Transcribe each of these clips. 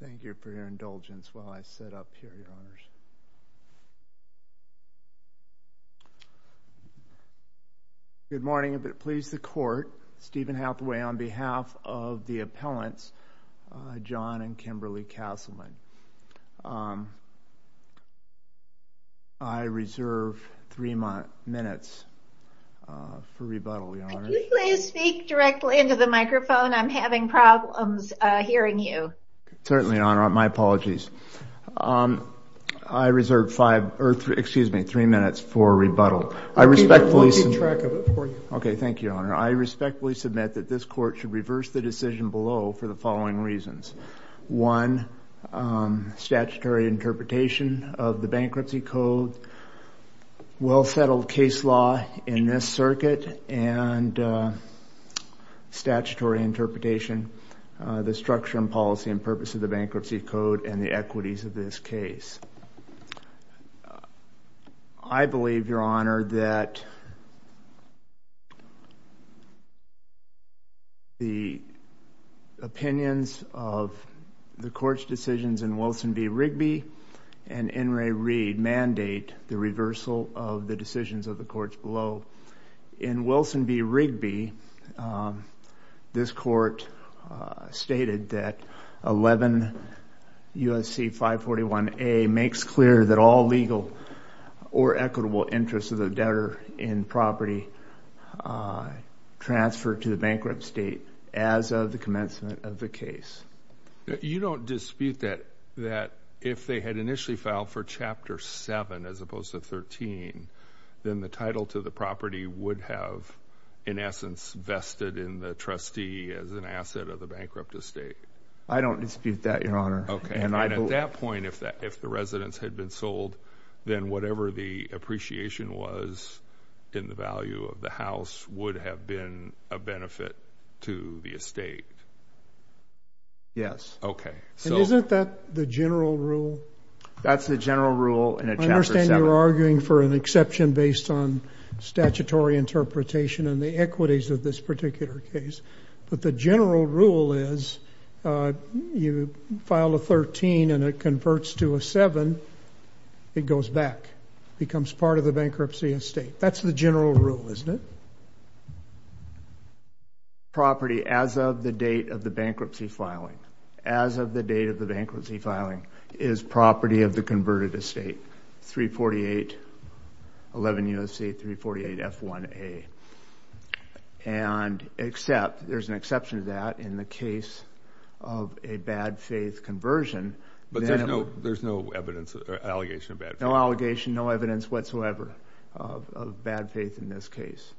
Thank you for your indulgence while I set up here, Your Honors. Good morning, and please the Court. Stephen Hathaway on behalf of the appellants, John and Kimberly Castleman. I reserve three minutes for rebuttal, Your Honors. Can you please speak directly into the microphone? I'm having problems hearing you. Certainly, Your Honor. My apologies. I reserve three minutes for rebuttal. We'll keep track of it for you. Okay, thank you, Your Honor. I respectfully submit that this Court should reverse the decision below for the following reasons. One, statutory interpretation of the Bankruptcy Code, well-settled case law in this circuit, and statutory interpretation, the structure and policy and purpose of the Bankruptcy Code, and the equities of this case. I believe, Your Honor, that the opinions of the Court's decisions in Wilson v. Rigby and N. Ray Reed mandate the reversal of the decisions of the Courts below. In Wilson v. Rigby, this Court stated that 11 U.S.C. 541A makes clear that all legal or equitable interests of the debtor in property transfer to the bankrupt state as of the commencement of the case. You don't dispute that if they had initially filed for Chapter 7 as opposed to 13, then the title to the property would have, in essence, vested in the trustee as an asset of the bankrupt estate? I don't dispute that, Your Honor. Okay, and at that point, if the residence had been sold, then whatever the appreciation was in the value of the house would have been a benefit to the estate? Yes. Okay. And isn't that the general rule? That's the general rule in Chapter 7. I understand you're arguing for an exception based on statutory interpretation and the equities of this particular case, but the general rule is you file a 13 and it converts to a 7, it goes back, becomes part of the bankruptcy estate. That's the general rule, isn't it? Property as of the date of the bankruptcy filing, as of the date of the bankruptcy filing, is property of the converted estate, 34811 U.S.C. 348 F1A. And except, there's an exception to that in the case of a bad faith conversion. But there's no evidence or allegation of bad faith? No allegation, no evidence whatsoever of bad faith in this case.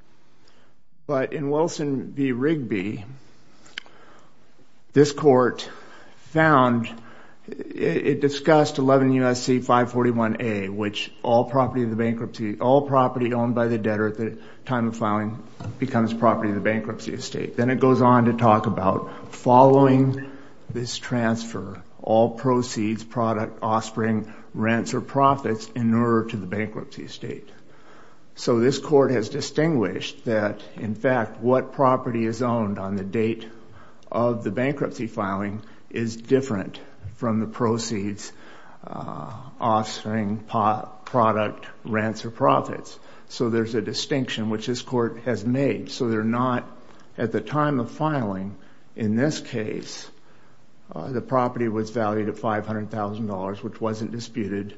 But in Wilson v. Rigby, this court found, it discussed 11 U.S.C. 541A, which all property of the bankruptcy, all property owned by the debtor at the time of filing becomes property of the bankruptcy estate. Then it goes on to talk about following this transfer, all proceeds, product, offspring, rents, or profits in order to the bankruptcy estate. So this court has distinguished that, in fact, what property is owned on the date of the bankruptcy filing is different from the proceeds, offspring, product, rents, or profits. So there's a distinction which this court has made. So they're not, at the time of filing, in this case, the property was valued at $500,000, which wasn't disputed.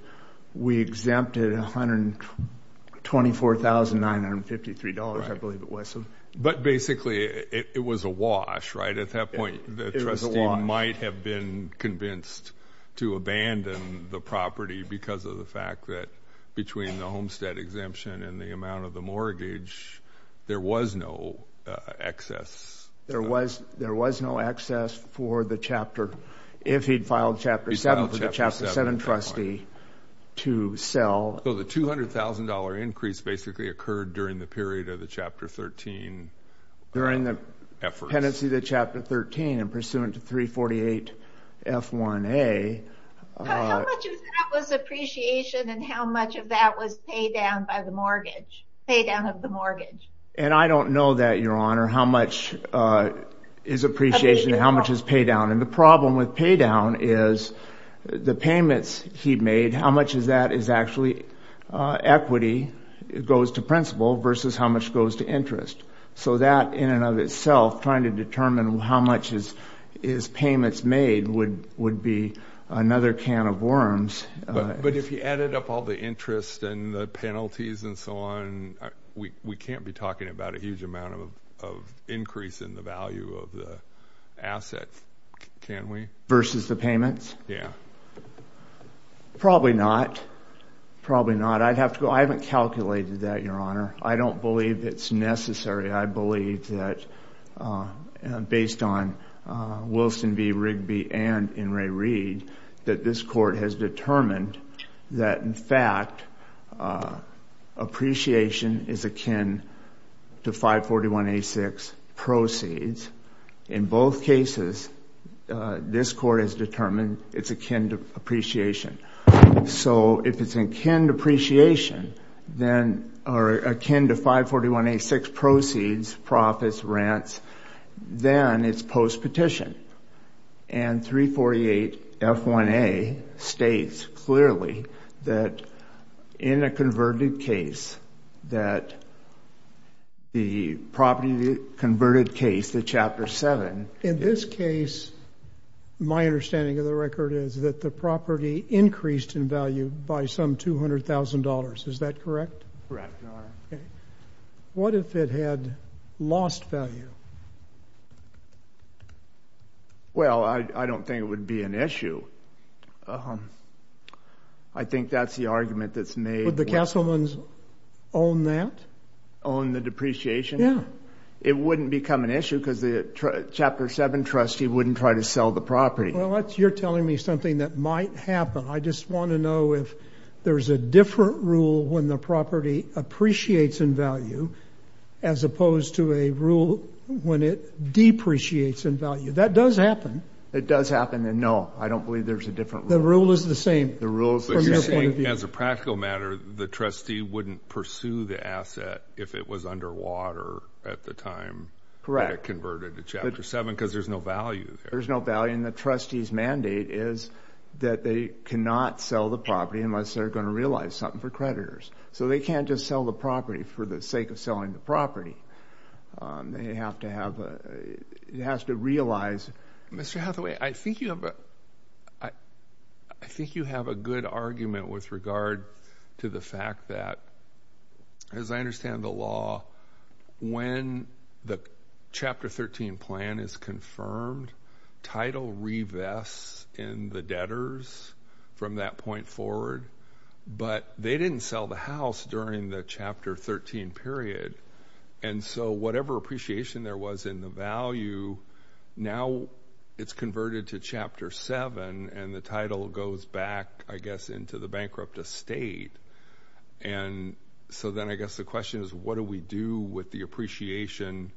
We exempted $124,953, I believe it was. But basically, it was a wash, right? At that point, the trustee might have been convinced to abandon the property because of the fact that between the homestead exemption and the amount of the mortgage, there was no excess. There was no excess for the chapter. If he'd filed Chapter 7 for the Chapter 7 trustee to sell. So the $200,000 increase basically occurred during the period of the Chapter 13 efforts. During the pendency to Chapter 13 and pursuant to 348 F1A. How much of that was appreciation and how much of that was pay down by the mortgage? Pay down of the mortgage. And I don't know that, Your Honor, how much is appreciation and how much is pay down. And the problem with pay down is the payments he made, how much of that is actually equity goes to principal versus how much goes to interest. So that, in and of itself, trying to determine how much is payments made would be another can of worms. But if you added up all the interest and the penalties and so on, we can't be talking about a huge amount of increase in the value of the asset, can we? Versus the payments? Yeah. Probably not. Probably not. I'd have to go. I haven't calculated that, Your Honor. I don't believe it's necessary. I believe that based on Wilson v. Rigby and in Ray Reid, that this court has determined that, in fact, appreciation is akin to 541A6 proceeds. In both cases, this court has determined it's akin to appreciation. So if it's akin to appreciation or akin to 541A6 proceeds, profits, rents, then it's post-petition. And 348F1A states clearly that in a converted case that the property converted case, the Chapter 7. In this case, my understanding of the record is that the property increased in value by some $200,000. Is that correct? Correct, Your Honor. What if it had lost value? Well, I don't think it would be an issue. I think that's the argument that's made. Would the Castlemans own that? Own the depreciation? Yeah. It wouldn't become an issue because the Chapter 7 trustee wouldn't try to sell the property. Well, you're telling me something that might happen. I just want to know if there's a different rule when the property appreciates in value as opposed to a rule when it depreciates in value. That does happen. It does happen, and no, I don't believe there's a different rule. The rule is the same. The rule from your point of view. But you're saying, as a practical matter, the trustee wouldn't pursue the asset if it was underwater at the time that it converted to Chapter 7 because there's no value there. There's no value, and the trustee's mandate is that they cannot sell the property unless they're going to realize something for creditors. So they can't just sell the property for the sake of selling the property. They have to have a – it has to realize – Mr. Hathaway, I think you have a good argument with regard to the fact that, as I understand the law, when the Chapter 13 plan is confirmed, title revests in the debtors from that point forward. But they didn't sell the house during the Chapter 13 period, and so whatever appreciation there was in the value, now it's converted to Chapter 7, and the title goes back, I guess, into the bankrupt estate. And so then I guess the question is, what do we do with the appreciation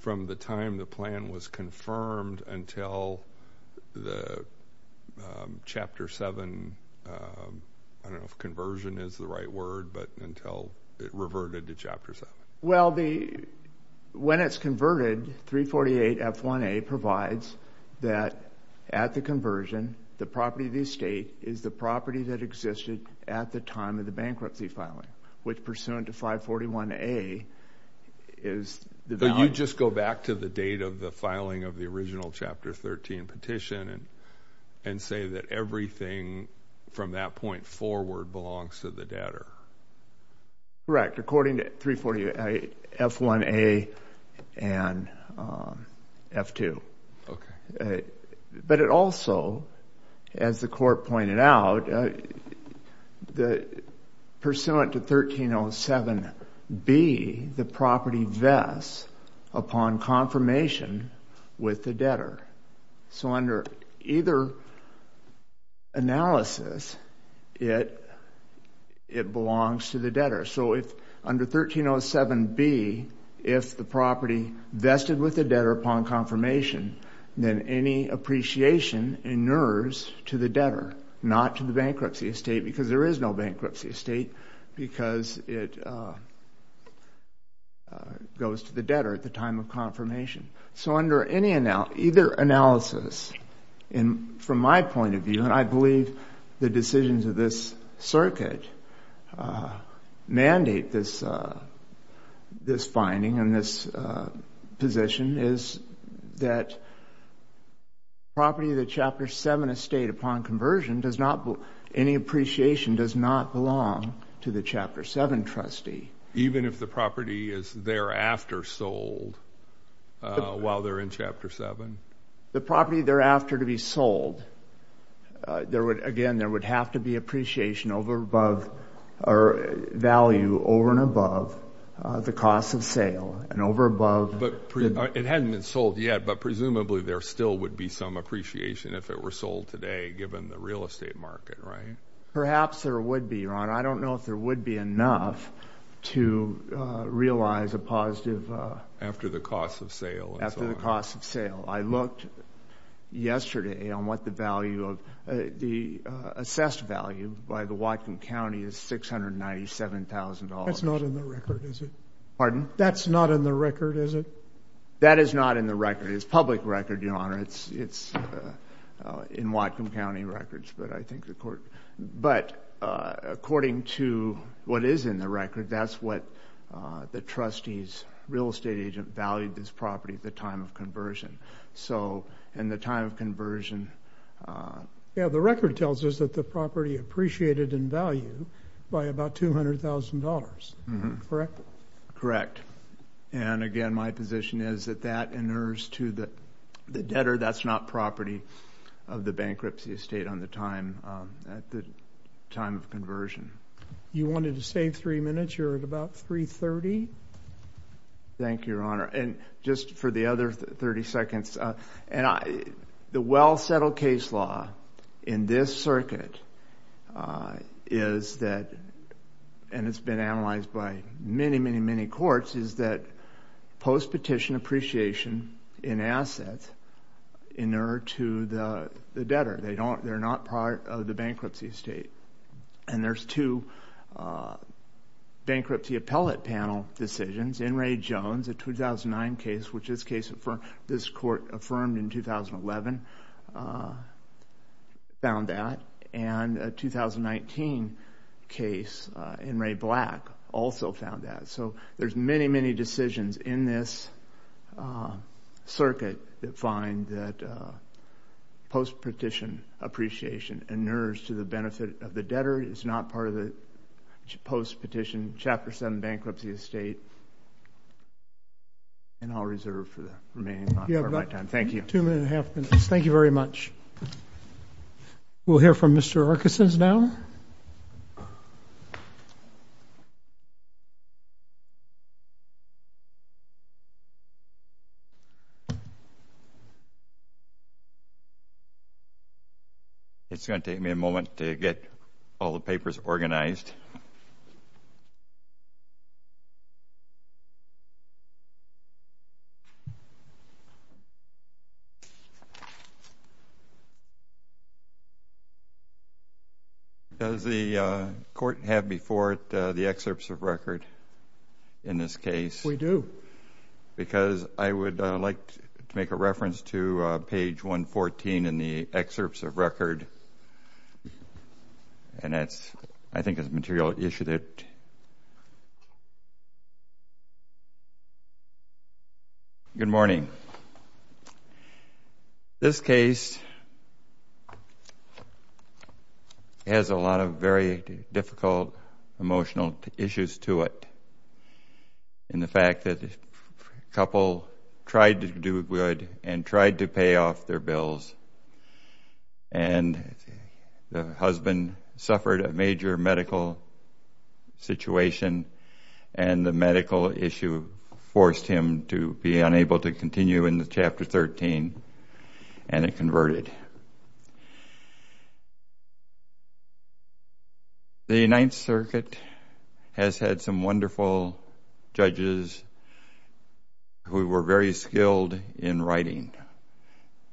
from the time the plan was confirmed until the Chapter 7 – I don't know if conversion is the right word, but until it reverted to Chapter 7. Well, when it's converted, 348 F1A provides that at the conversion, the property of the estate is the property that existed at the time of the bankruptcy filing, which pursuant to 541A is – But you just go back to the date of the filing of the original Chapter 13 petition and say that everything from that point forward belongs to the debtor. Correct, according to 348 F1A and F2. But it also, as the court pointed out, pursuant to 1307B, the property vests upon confirmation with the debtor. So under either analysis, it belongs to the debtor. So under 1307B, if the property vested with the debtor upon confirmation, then any appreciation inures to the debtor, not to the bankruptcy estate, because there is no bankruptcy estate, because it goes to the debtor at the time of confirmation. So under either analysis, from my point of view, and I believe the decisions of this circuit mandate this finding and this position, is that property of the Chapter 7 estate upon conversion does not – any appreciation does not belong to the Chapter 7 trustee. Even if the property is thereafter sold while they're in Chapter 7? The property thereafter to be sold, again, there would have to be appreciation value over and above the cost of sale and over above – But it hadn't been sold yet, but presumably there still would be some appreciation if it were sold today, given the real estate market, right? Perhaps there would be, Your Honor. I don't know if there would be enough to realize a positive – After the cost of sale and so on. After the cost of sale. I looked yesterday on what the value of – the assessed value by the Whatcom County is $697,000. That's not in the record, is it? Pardon? That's not in the record, is it? That is not in the record. It's public record, Your Honor. It's in Whatcom County records, but I think the court – But according to what is in the record, that's what the trustee's real estate agent valued this property at the time of conversion. So, in the time of conversion – Yeah, the record tells us that the property appreciated in value by about $200,000, correct? Correct. And again, my position is that that inures to the debtor. That's not property of the bankruptcy estate on the time – at the time of conversion. You wanted to save three minutes. You're at about 3.30. Thank you, Your Honor. And just for the other 30 seconds, the well-settled case law in this circuit is that – and it's been analyzed by many, many, many courts – is that post-petition appreciation in assets inure to the debtor. They're not part of the bankruptcy estate. And there's two bankruptcy appellate panel decisions. In Ray Jones, a 2009 case, which this court affirmed in 2011, found that. And a 2019 case, in Ray Black, also found that. So, there's many, many decisions in this circuit that find that post-petition appreciation inures to the benefit of the debtor. It's not part of the post-petition Chapter 7 bankruptcy estate. And I'll reserve for the remaining part of my time. Thank you. All right. Two and a half minutes. Thank you very much. We'll hear from Mr. Erickson now. It's going to take me a moment to get all the papers organized. Does the court have before it the excerpts of record in this case? We do. Because I would like to make a reference to page 114 in the excerpts of record. And that's – I think it's material that issued it. Good morning. This case has a lot of very difficult emotional issues to it. In the fact that the couple tried to do good and tried to pay off their bills. And the husband suffered a major medical situation. And the medical issue forced him to be unable to continue in Chapter 13. And it converted. The Ninth Circuit has had some wonderful judges who were very skilled in writing.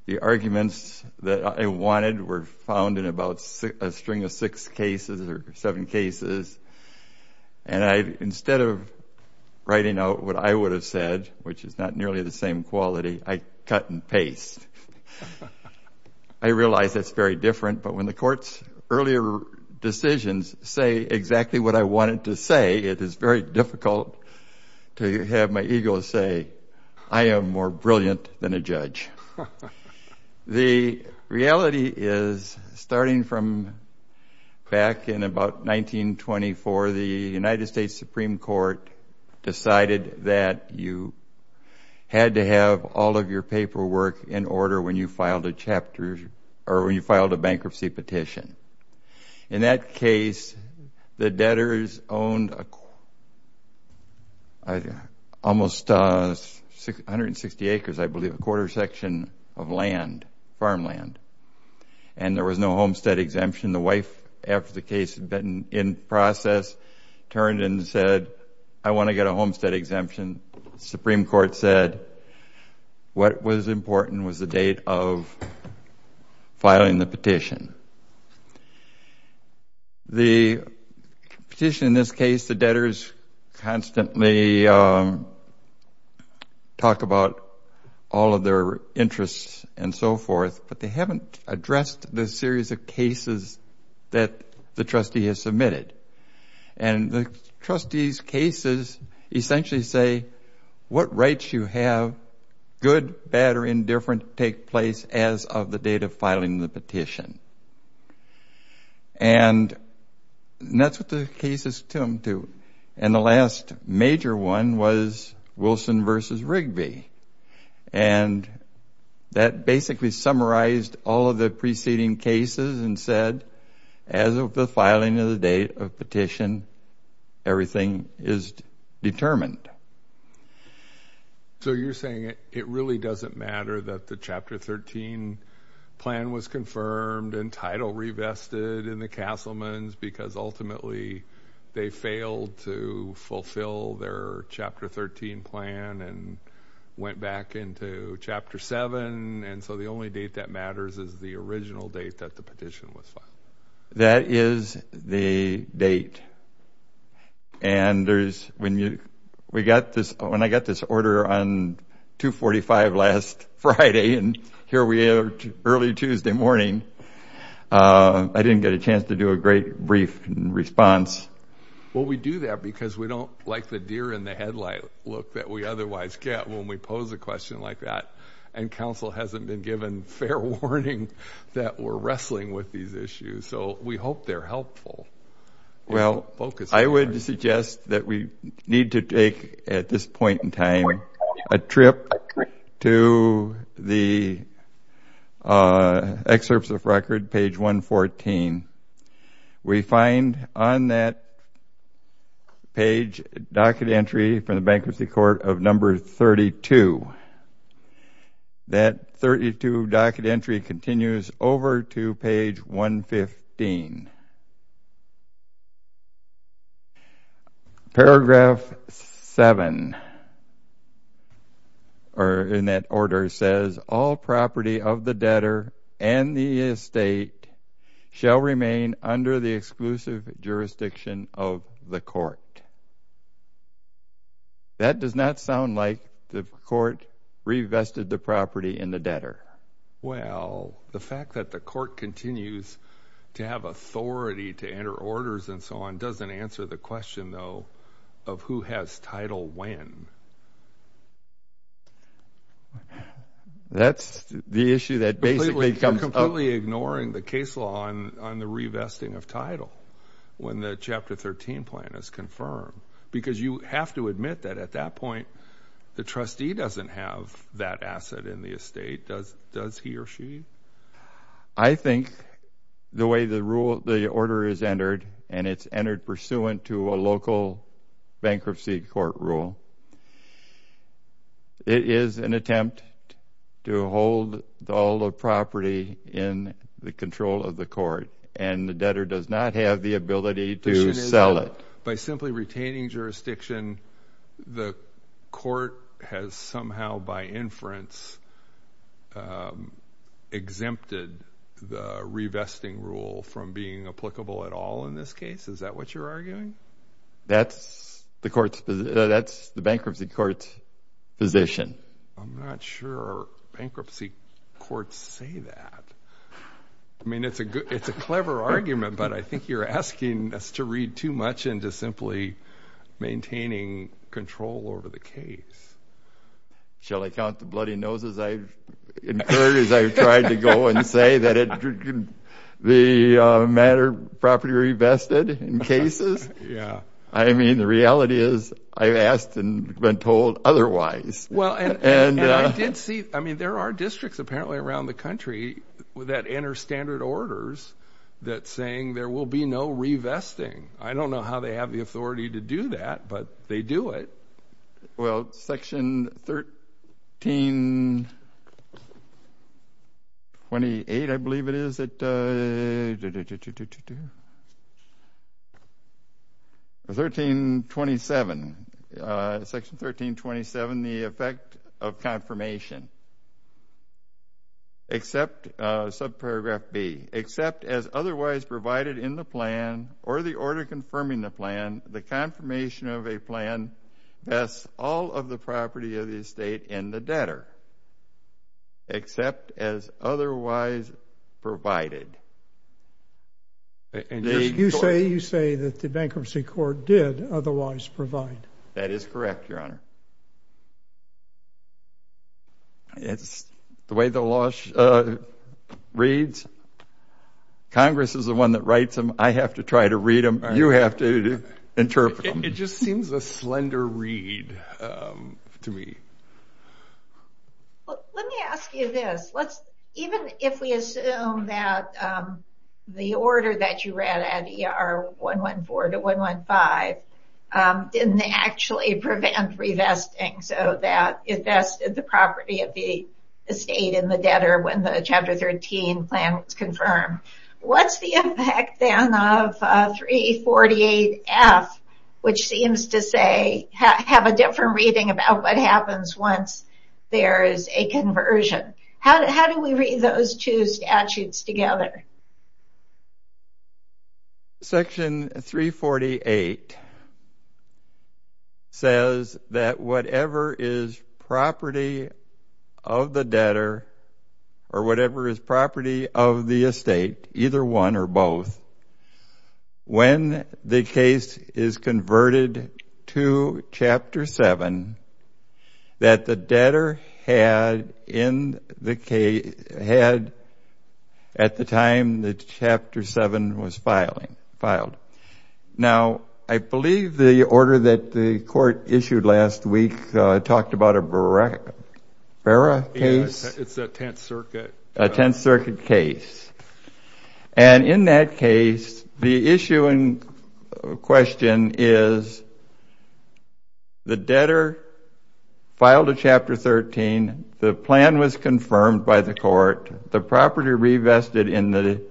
The arguments that I wanted were found in about a string of six cases or seven cases. And instead of writing out what I would have said, which is not nearly the same quality, I cut and paste. I realize that's very different, but when the court's earlier decisions say exactly what I wanted to say, it is very difficult to have my ego say, I am more brilliant than a judge. The reality is, starting from back in about 1924, the United States Supreme Court decided that you had to have all of your paperwork in order when you filed a bankruptcy petition. In that case, the debtors owned almost 160 acres, I believe, a quarter section of land, farmland. And there was no homestead exemption. The wife, after the case had been in process, turned and said, I want to get a homestead exemption. The Supreme Court said what was important was the date of filing the petition. The petition in this case, the debtors constantly talk about all of their interests and so forth, but they haven't addressed the series of cases that the trustee has submitted. And the trustees' cases essentially say, what rights you have, good, bad, or indifferent, take place as of the date of filing the petition. And that's what the case is attuned to. And that basically summarized all of the preceding cases and said, as of the filing of the date of petition, everything is determined. So you're saying it really doesn't matter that the Chapter 13 plan was confirmed and title revested in the Castleman's because ultimately they failed to fulfill their Chapter 13 plan and went back into Chapter 7. And so the only date that matters is the original date that the petition was filed. That is the date. And when I got this order on 245 last Friday and here we are early Tuesday morning, I didn't get a chance to do a great brief response. Well, we do that because we don't like the deer-in-the-headlight look that we otherwise get when we pose a question like that. And Council hasn't been given fair warning that we're wrestling with these issues. So we hope they're helpful. Well, I would suggest that we need to take, at this point in time, a trip to the Excerpts of Record, page 114. We find on that page a docket entry from the Bankruptcy Court of number 32. That 32 docket entry continues over to page 115. Paragraph 7 in that order says, All property of the debtor and the estate shall remain under the exclusive jurisdiction of the court. That does not sound like the court revested the property in the debtor. Well, the fact that the court continues to have authority to enter orders and so on doesn't answer the question, though, of who has title when. That's the issue that basically comes up. You're completely ignoring the case law on the revesting of title when the Chapter 13 plan is confirmed because you have to admit that at that point the trustee doesn't have that asset in the estate, does he or she? I think the way the order is entered, and it's entered pursuant to a local bankruptcy court rule, it is an attempt to hold all the property in the control of the court, and the debtor does not have the ability to sell it. By simply retaining jurisdiction, the court has somehow by inference exempted the revesting rule from being applicable at all in this case. Is that what you're arguing? That's the bankruptcy court's position. I'm not sure bankruptcy courts say that. I mean, it's a clever argument, but I think you're asking us to read too much into simply maintaining control over the case. Shall I count the bloody noses I've incurred as I've tried to go and say that the matter properly revested in cases? I mean, the reality is I've asked and been told otherwise. And I did see, I mean, there are districts apparently around the country that enter standard orders that's saying there will be no revesting. I don't know how they have the authority to do that, but they do it. Well, Section 1328, I believe it is. 1327, Section 1327, the effect of confirmation. Subparagraph B, except as otherwise provided in the plan or the order confirming the plan, the confirmation of a plan vests all of the property of the estate in the debtor. Except as otherwise provided. You say that the bankruptcy court did otherwise provide. That is correct, Your Honor. It's the way the law reads. Congress is the one that writes them. I have to try to read them. You have to interpret them. It just seems a slender read to me. Let me ask you this. Even if we assume that the order that you read at ER 114 to 115 didn't actually prevent revesting so that it vested the property of the estate in the debtor when the Chapter 13 plan was confirmed, what's the effect then of 348F, which seems to say, have a different reading about what happens once there is a conversion. How do we read those two statutes together? Section 348 says that whatever is property of the debtor or whatever is property of the estate, either one or both, when the case is converted to Chapter 7, that the debtor had at the time that Chapter 7 was filed. Now, I believe the order that the court issued last week talked about a Barra case. It's a Tenth Circuit. A Tenth Circuit case. And in that case, the issue in question is the debtor filed a Chapter 13. The plan was confirmed by the court. The property revested in the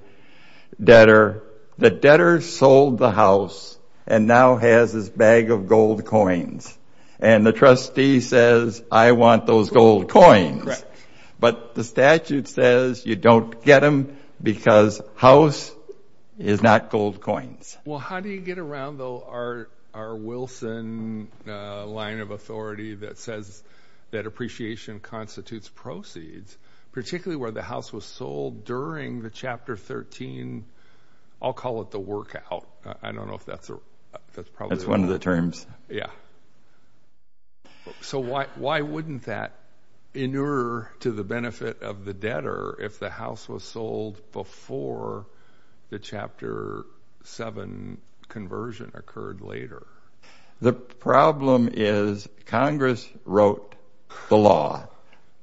debtor. The debtor sold the house and now has his bag of gold coins. And the trustee says, I want those gold coins. But the statute says you don't get them because house is not gold coins. Well, how do you get around, though, our Wilson line of authority that says that appreciation constitutes proceeds, particularly where the house was sold during the Chapter 13, I'll call it the work out. I don't know if that's a – That's one of the terms. Yeah. So why wouldn't that inure to the benefit of the debtor if the house was sold before the Chapter 7 conversion occurred later? The problem is Congress wrote the law.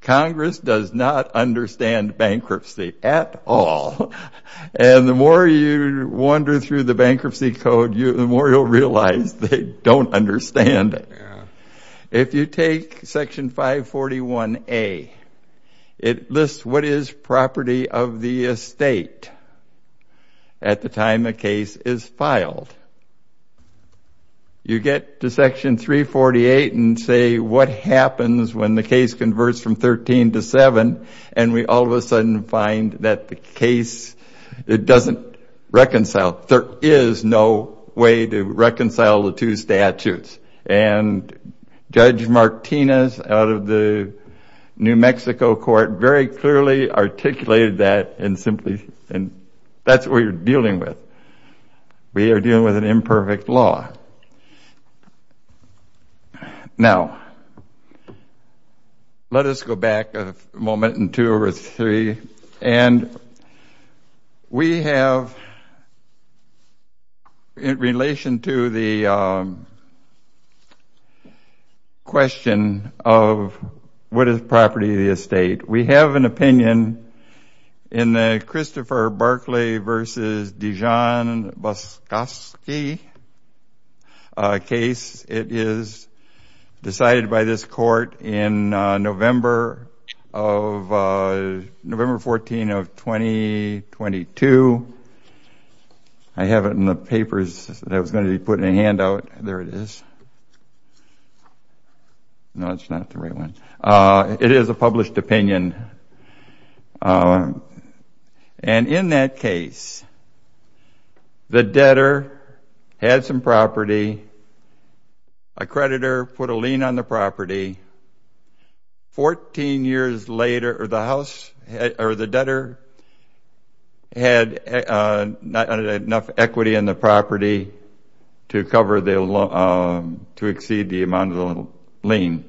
Congress does not understand bankruptcy at all. And the more you wander through the bankruptcy code, the more you'll realize they don't understand it. If you take Section 541A, it lists what is property of the estate at the time a case is filed. You get to Section 348 and say what happens when the case converts from 13 to 7, and we all of a sudden find that the case, it doesn't reconcile. There is no way to reconcile the two statutes. And Judge Martinez out of the New Mexico court very clearly articulated that and simply – that's what you're dealing with. We are dealing with an imperfect law. All right. Now, let us go back a moment and two or three. And we have in relation to the question of what is property of the estate, we have an opinion in the Christopher Barclay v. Dijon-Boskoski case. It is decided by this court in November 14 of 2022. I have it in the papers that was going to be put in a handout. There it is. No, it's not the right one. It is a published opinion. And in that case, the debtor had some property. A creditor put a lien on the property. Fourteen years later, the house or the debtor had not had enough equity in the property to exceed the amount of the lien.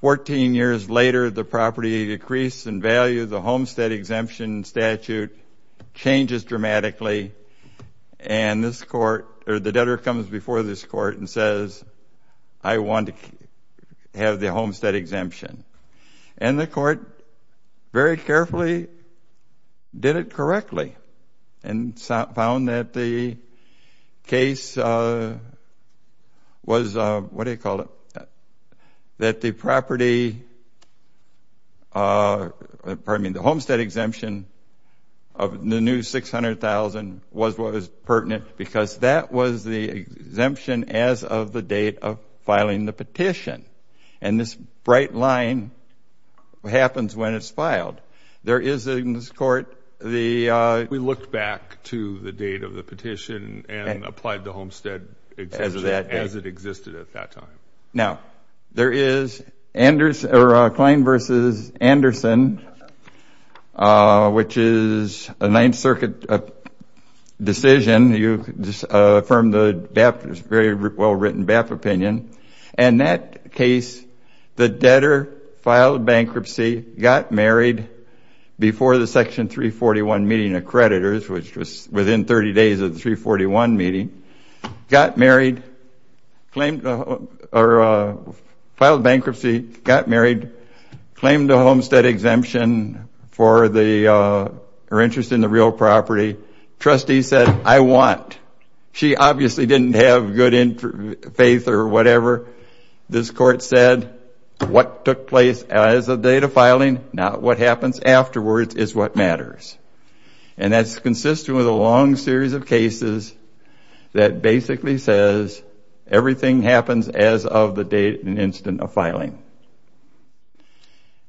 Fourteen years later, the property decreased in value. The homestead exemption statute changes dramatically. And the debtor comes before this court and says, I want to have the homestead exemption. And the court very carefully did it correctly and found that the case was, what do you call it, that the property, pardon me, the homestead exemption of the new $600,000 was what was pertinent because that was the exemption as of the date of filing the petition. We looked back to the date of the petition and applied the homestead exemption as it existed at that time. Now, there is Klein v. Anderson, which is a Ninth Circuit decision. You can just affirm the BAP, it's a very well-written BAP opinion. In that case, the debtor filed bankruptcy, got married before the Section 341 meeting of creditors, which was within 30 days of the 341 meeting, got married, filed bankruptcy, got married, claimed a homestead exemption for her interest in the real property. Trustee said, I want. She obviously didn't have good faith or whatever. This court said, what took place as of the date of filing, not what happens afterwards, is what matters. And that's consistent with a long series of cases that basically says everything happens as of the date and instant of filing.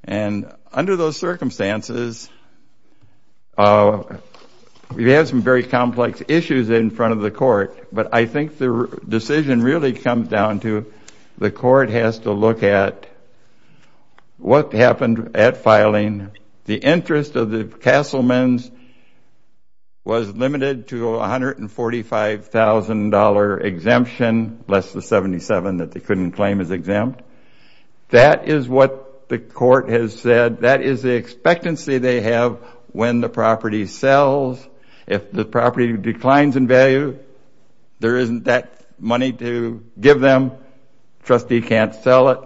And under those circumstances, we have some very complex issues in front of the court, but I think the decision really comes down to the court has to look at what happened at filing. The interest of the Castleman's was limited to $145,000 exemption, less the $77,000 that they couldn't claim as exempt. That is what the court has said. That is the expectancy they have when the property sells. If the property declines in value, there isn't that money to give them. Trustee can't sell it.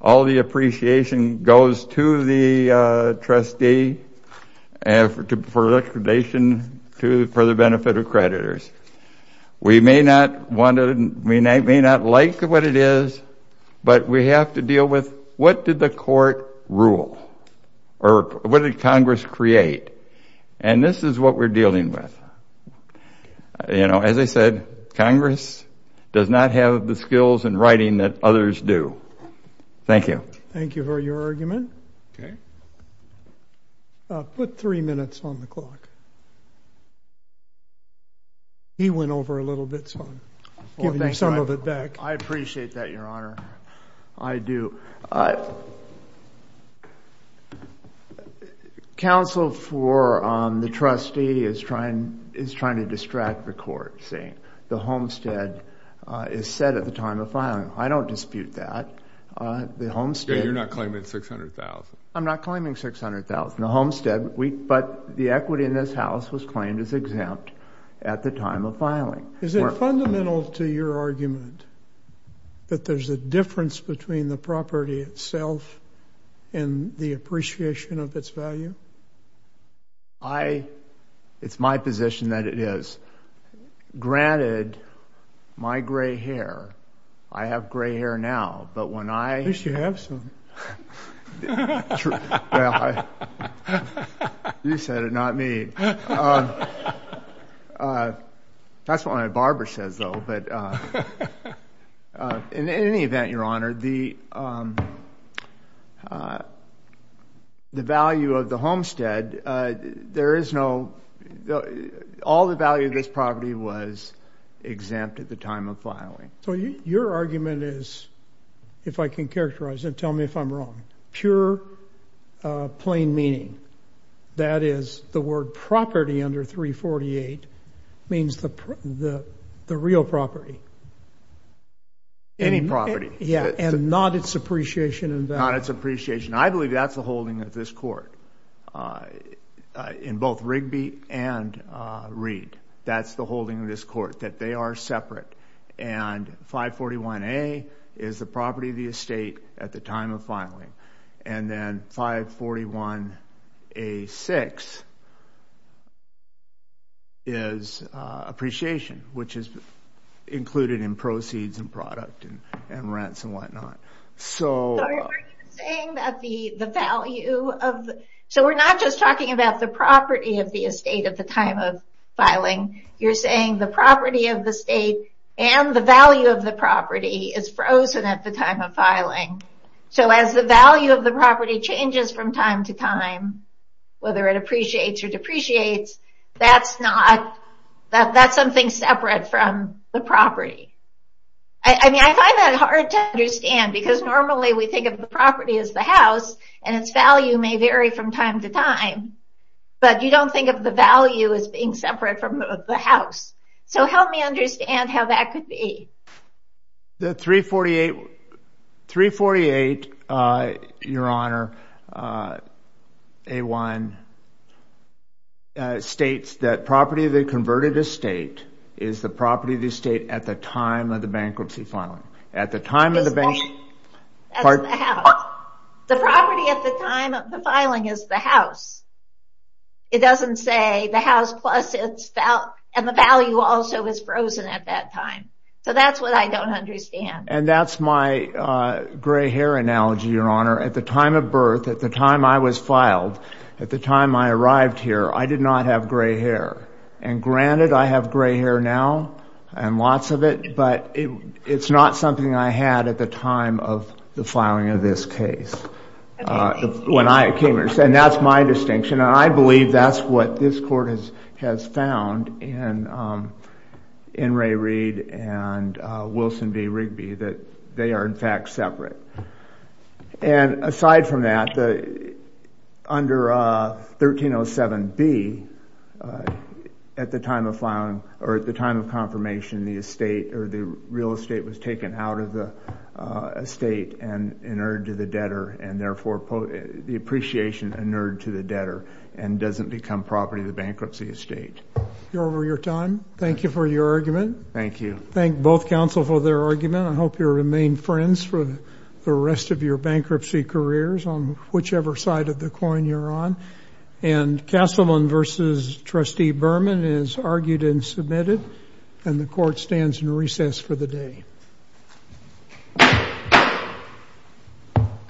All the appreciation goes to the trustee for the benefit of creditors. We may not like what it is, but we have to deal with what did the court rule or what did Congress create? And this is what we're dealing with. As I said, Congress does not have the skills and writing that others do. Thank you. Thank you for your argument. Put three minutes on the clock. He went over a little bit, so I'm giving you some of it back. I appreciate that, Your Honor. I do. Counsel for the trustee is trying to distract the court, saying the homestead is set at the time of filing. I don't dispute that. You're not claiming $600,000. I'm not claiming $600,000. The homestead, but the equity in this house was claimed as exempt at the time of filing. Is it fundamental to your argument that there's a difference between the property itself and the appreciation of its value? It's my position that it is. Granted, my gray hair, I have gray hair now, but when I – At least you have some. You said it, not me. That's what my barber says, though. In any event, Your Honor, the value of the homestead, there is no – all the value of this property was exempt at the time of filing. So your argument is, if I can characterize it, tell me if I'm wrong, pure, plain meaning. That is, the word property under 348 means the real property. Any property. Yeah, and not its appreciation and value. Not its appreciation. I believe that's the holding of this court. In both Rigby and Reed, that's the holding of this court, that they are separate. And then 541A6 is appreciation, which is included in proceeds and product and rents and whatnot. Are you saying that the value of – so we're not just talking about the property of the estate at the time of filing, you're saying the property of the estate and the value of the property is frozen at the time of filing. So as the value of the property changes from time to time, whether it appreciates or depreciates, that's not – that's something separate from the property. I mean, I find that hard to understand, because normally we think of the property as the house, and its value may vary from time to time. But you don't think of the value as being separate from the house. So help me understand how that could be. The 348, Your Honor, A1 states that property of the converted estate is the property of the estate at the time of the bankruptcy filing. At the time of the bank – That's the house. The property at the time of the filing is the house. It doesn't say the house plus its – and the value also is frozen at that time. So that's what I don't understand. And that's my gray hair analogy, Your Honor. At the time of birth, at the time I was filed, at the time I arrived here, I did not have gray hair. And granted, I have gray hair now, and lots of it, but it's not something I had at the time of the filing of this case. And that's my distinction. And I believe that's what this court has found in Ray Reed and Wilson v. Rigby, that they are, in fact, separate. And aside from that, under 1307B, at the time of filing – or at the time of confirmation, the estate – or the real estate was taken out of the estate and inured to the debtor, and therefore the appreciation inured to the debtor and doesn't become property of the bankruptcy estate. You're over your time. Thank you for your argument. Thank you. Thank both counsel for their argument. I hope you'll remain friends for the rest of your bankruptcy careers on whichever side of the coin you're on. And Castleman v. Trustee Berman is argued and submitted, and the court stands in recess for the day.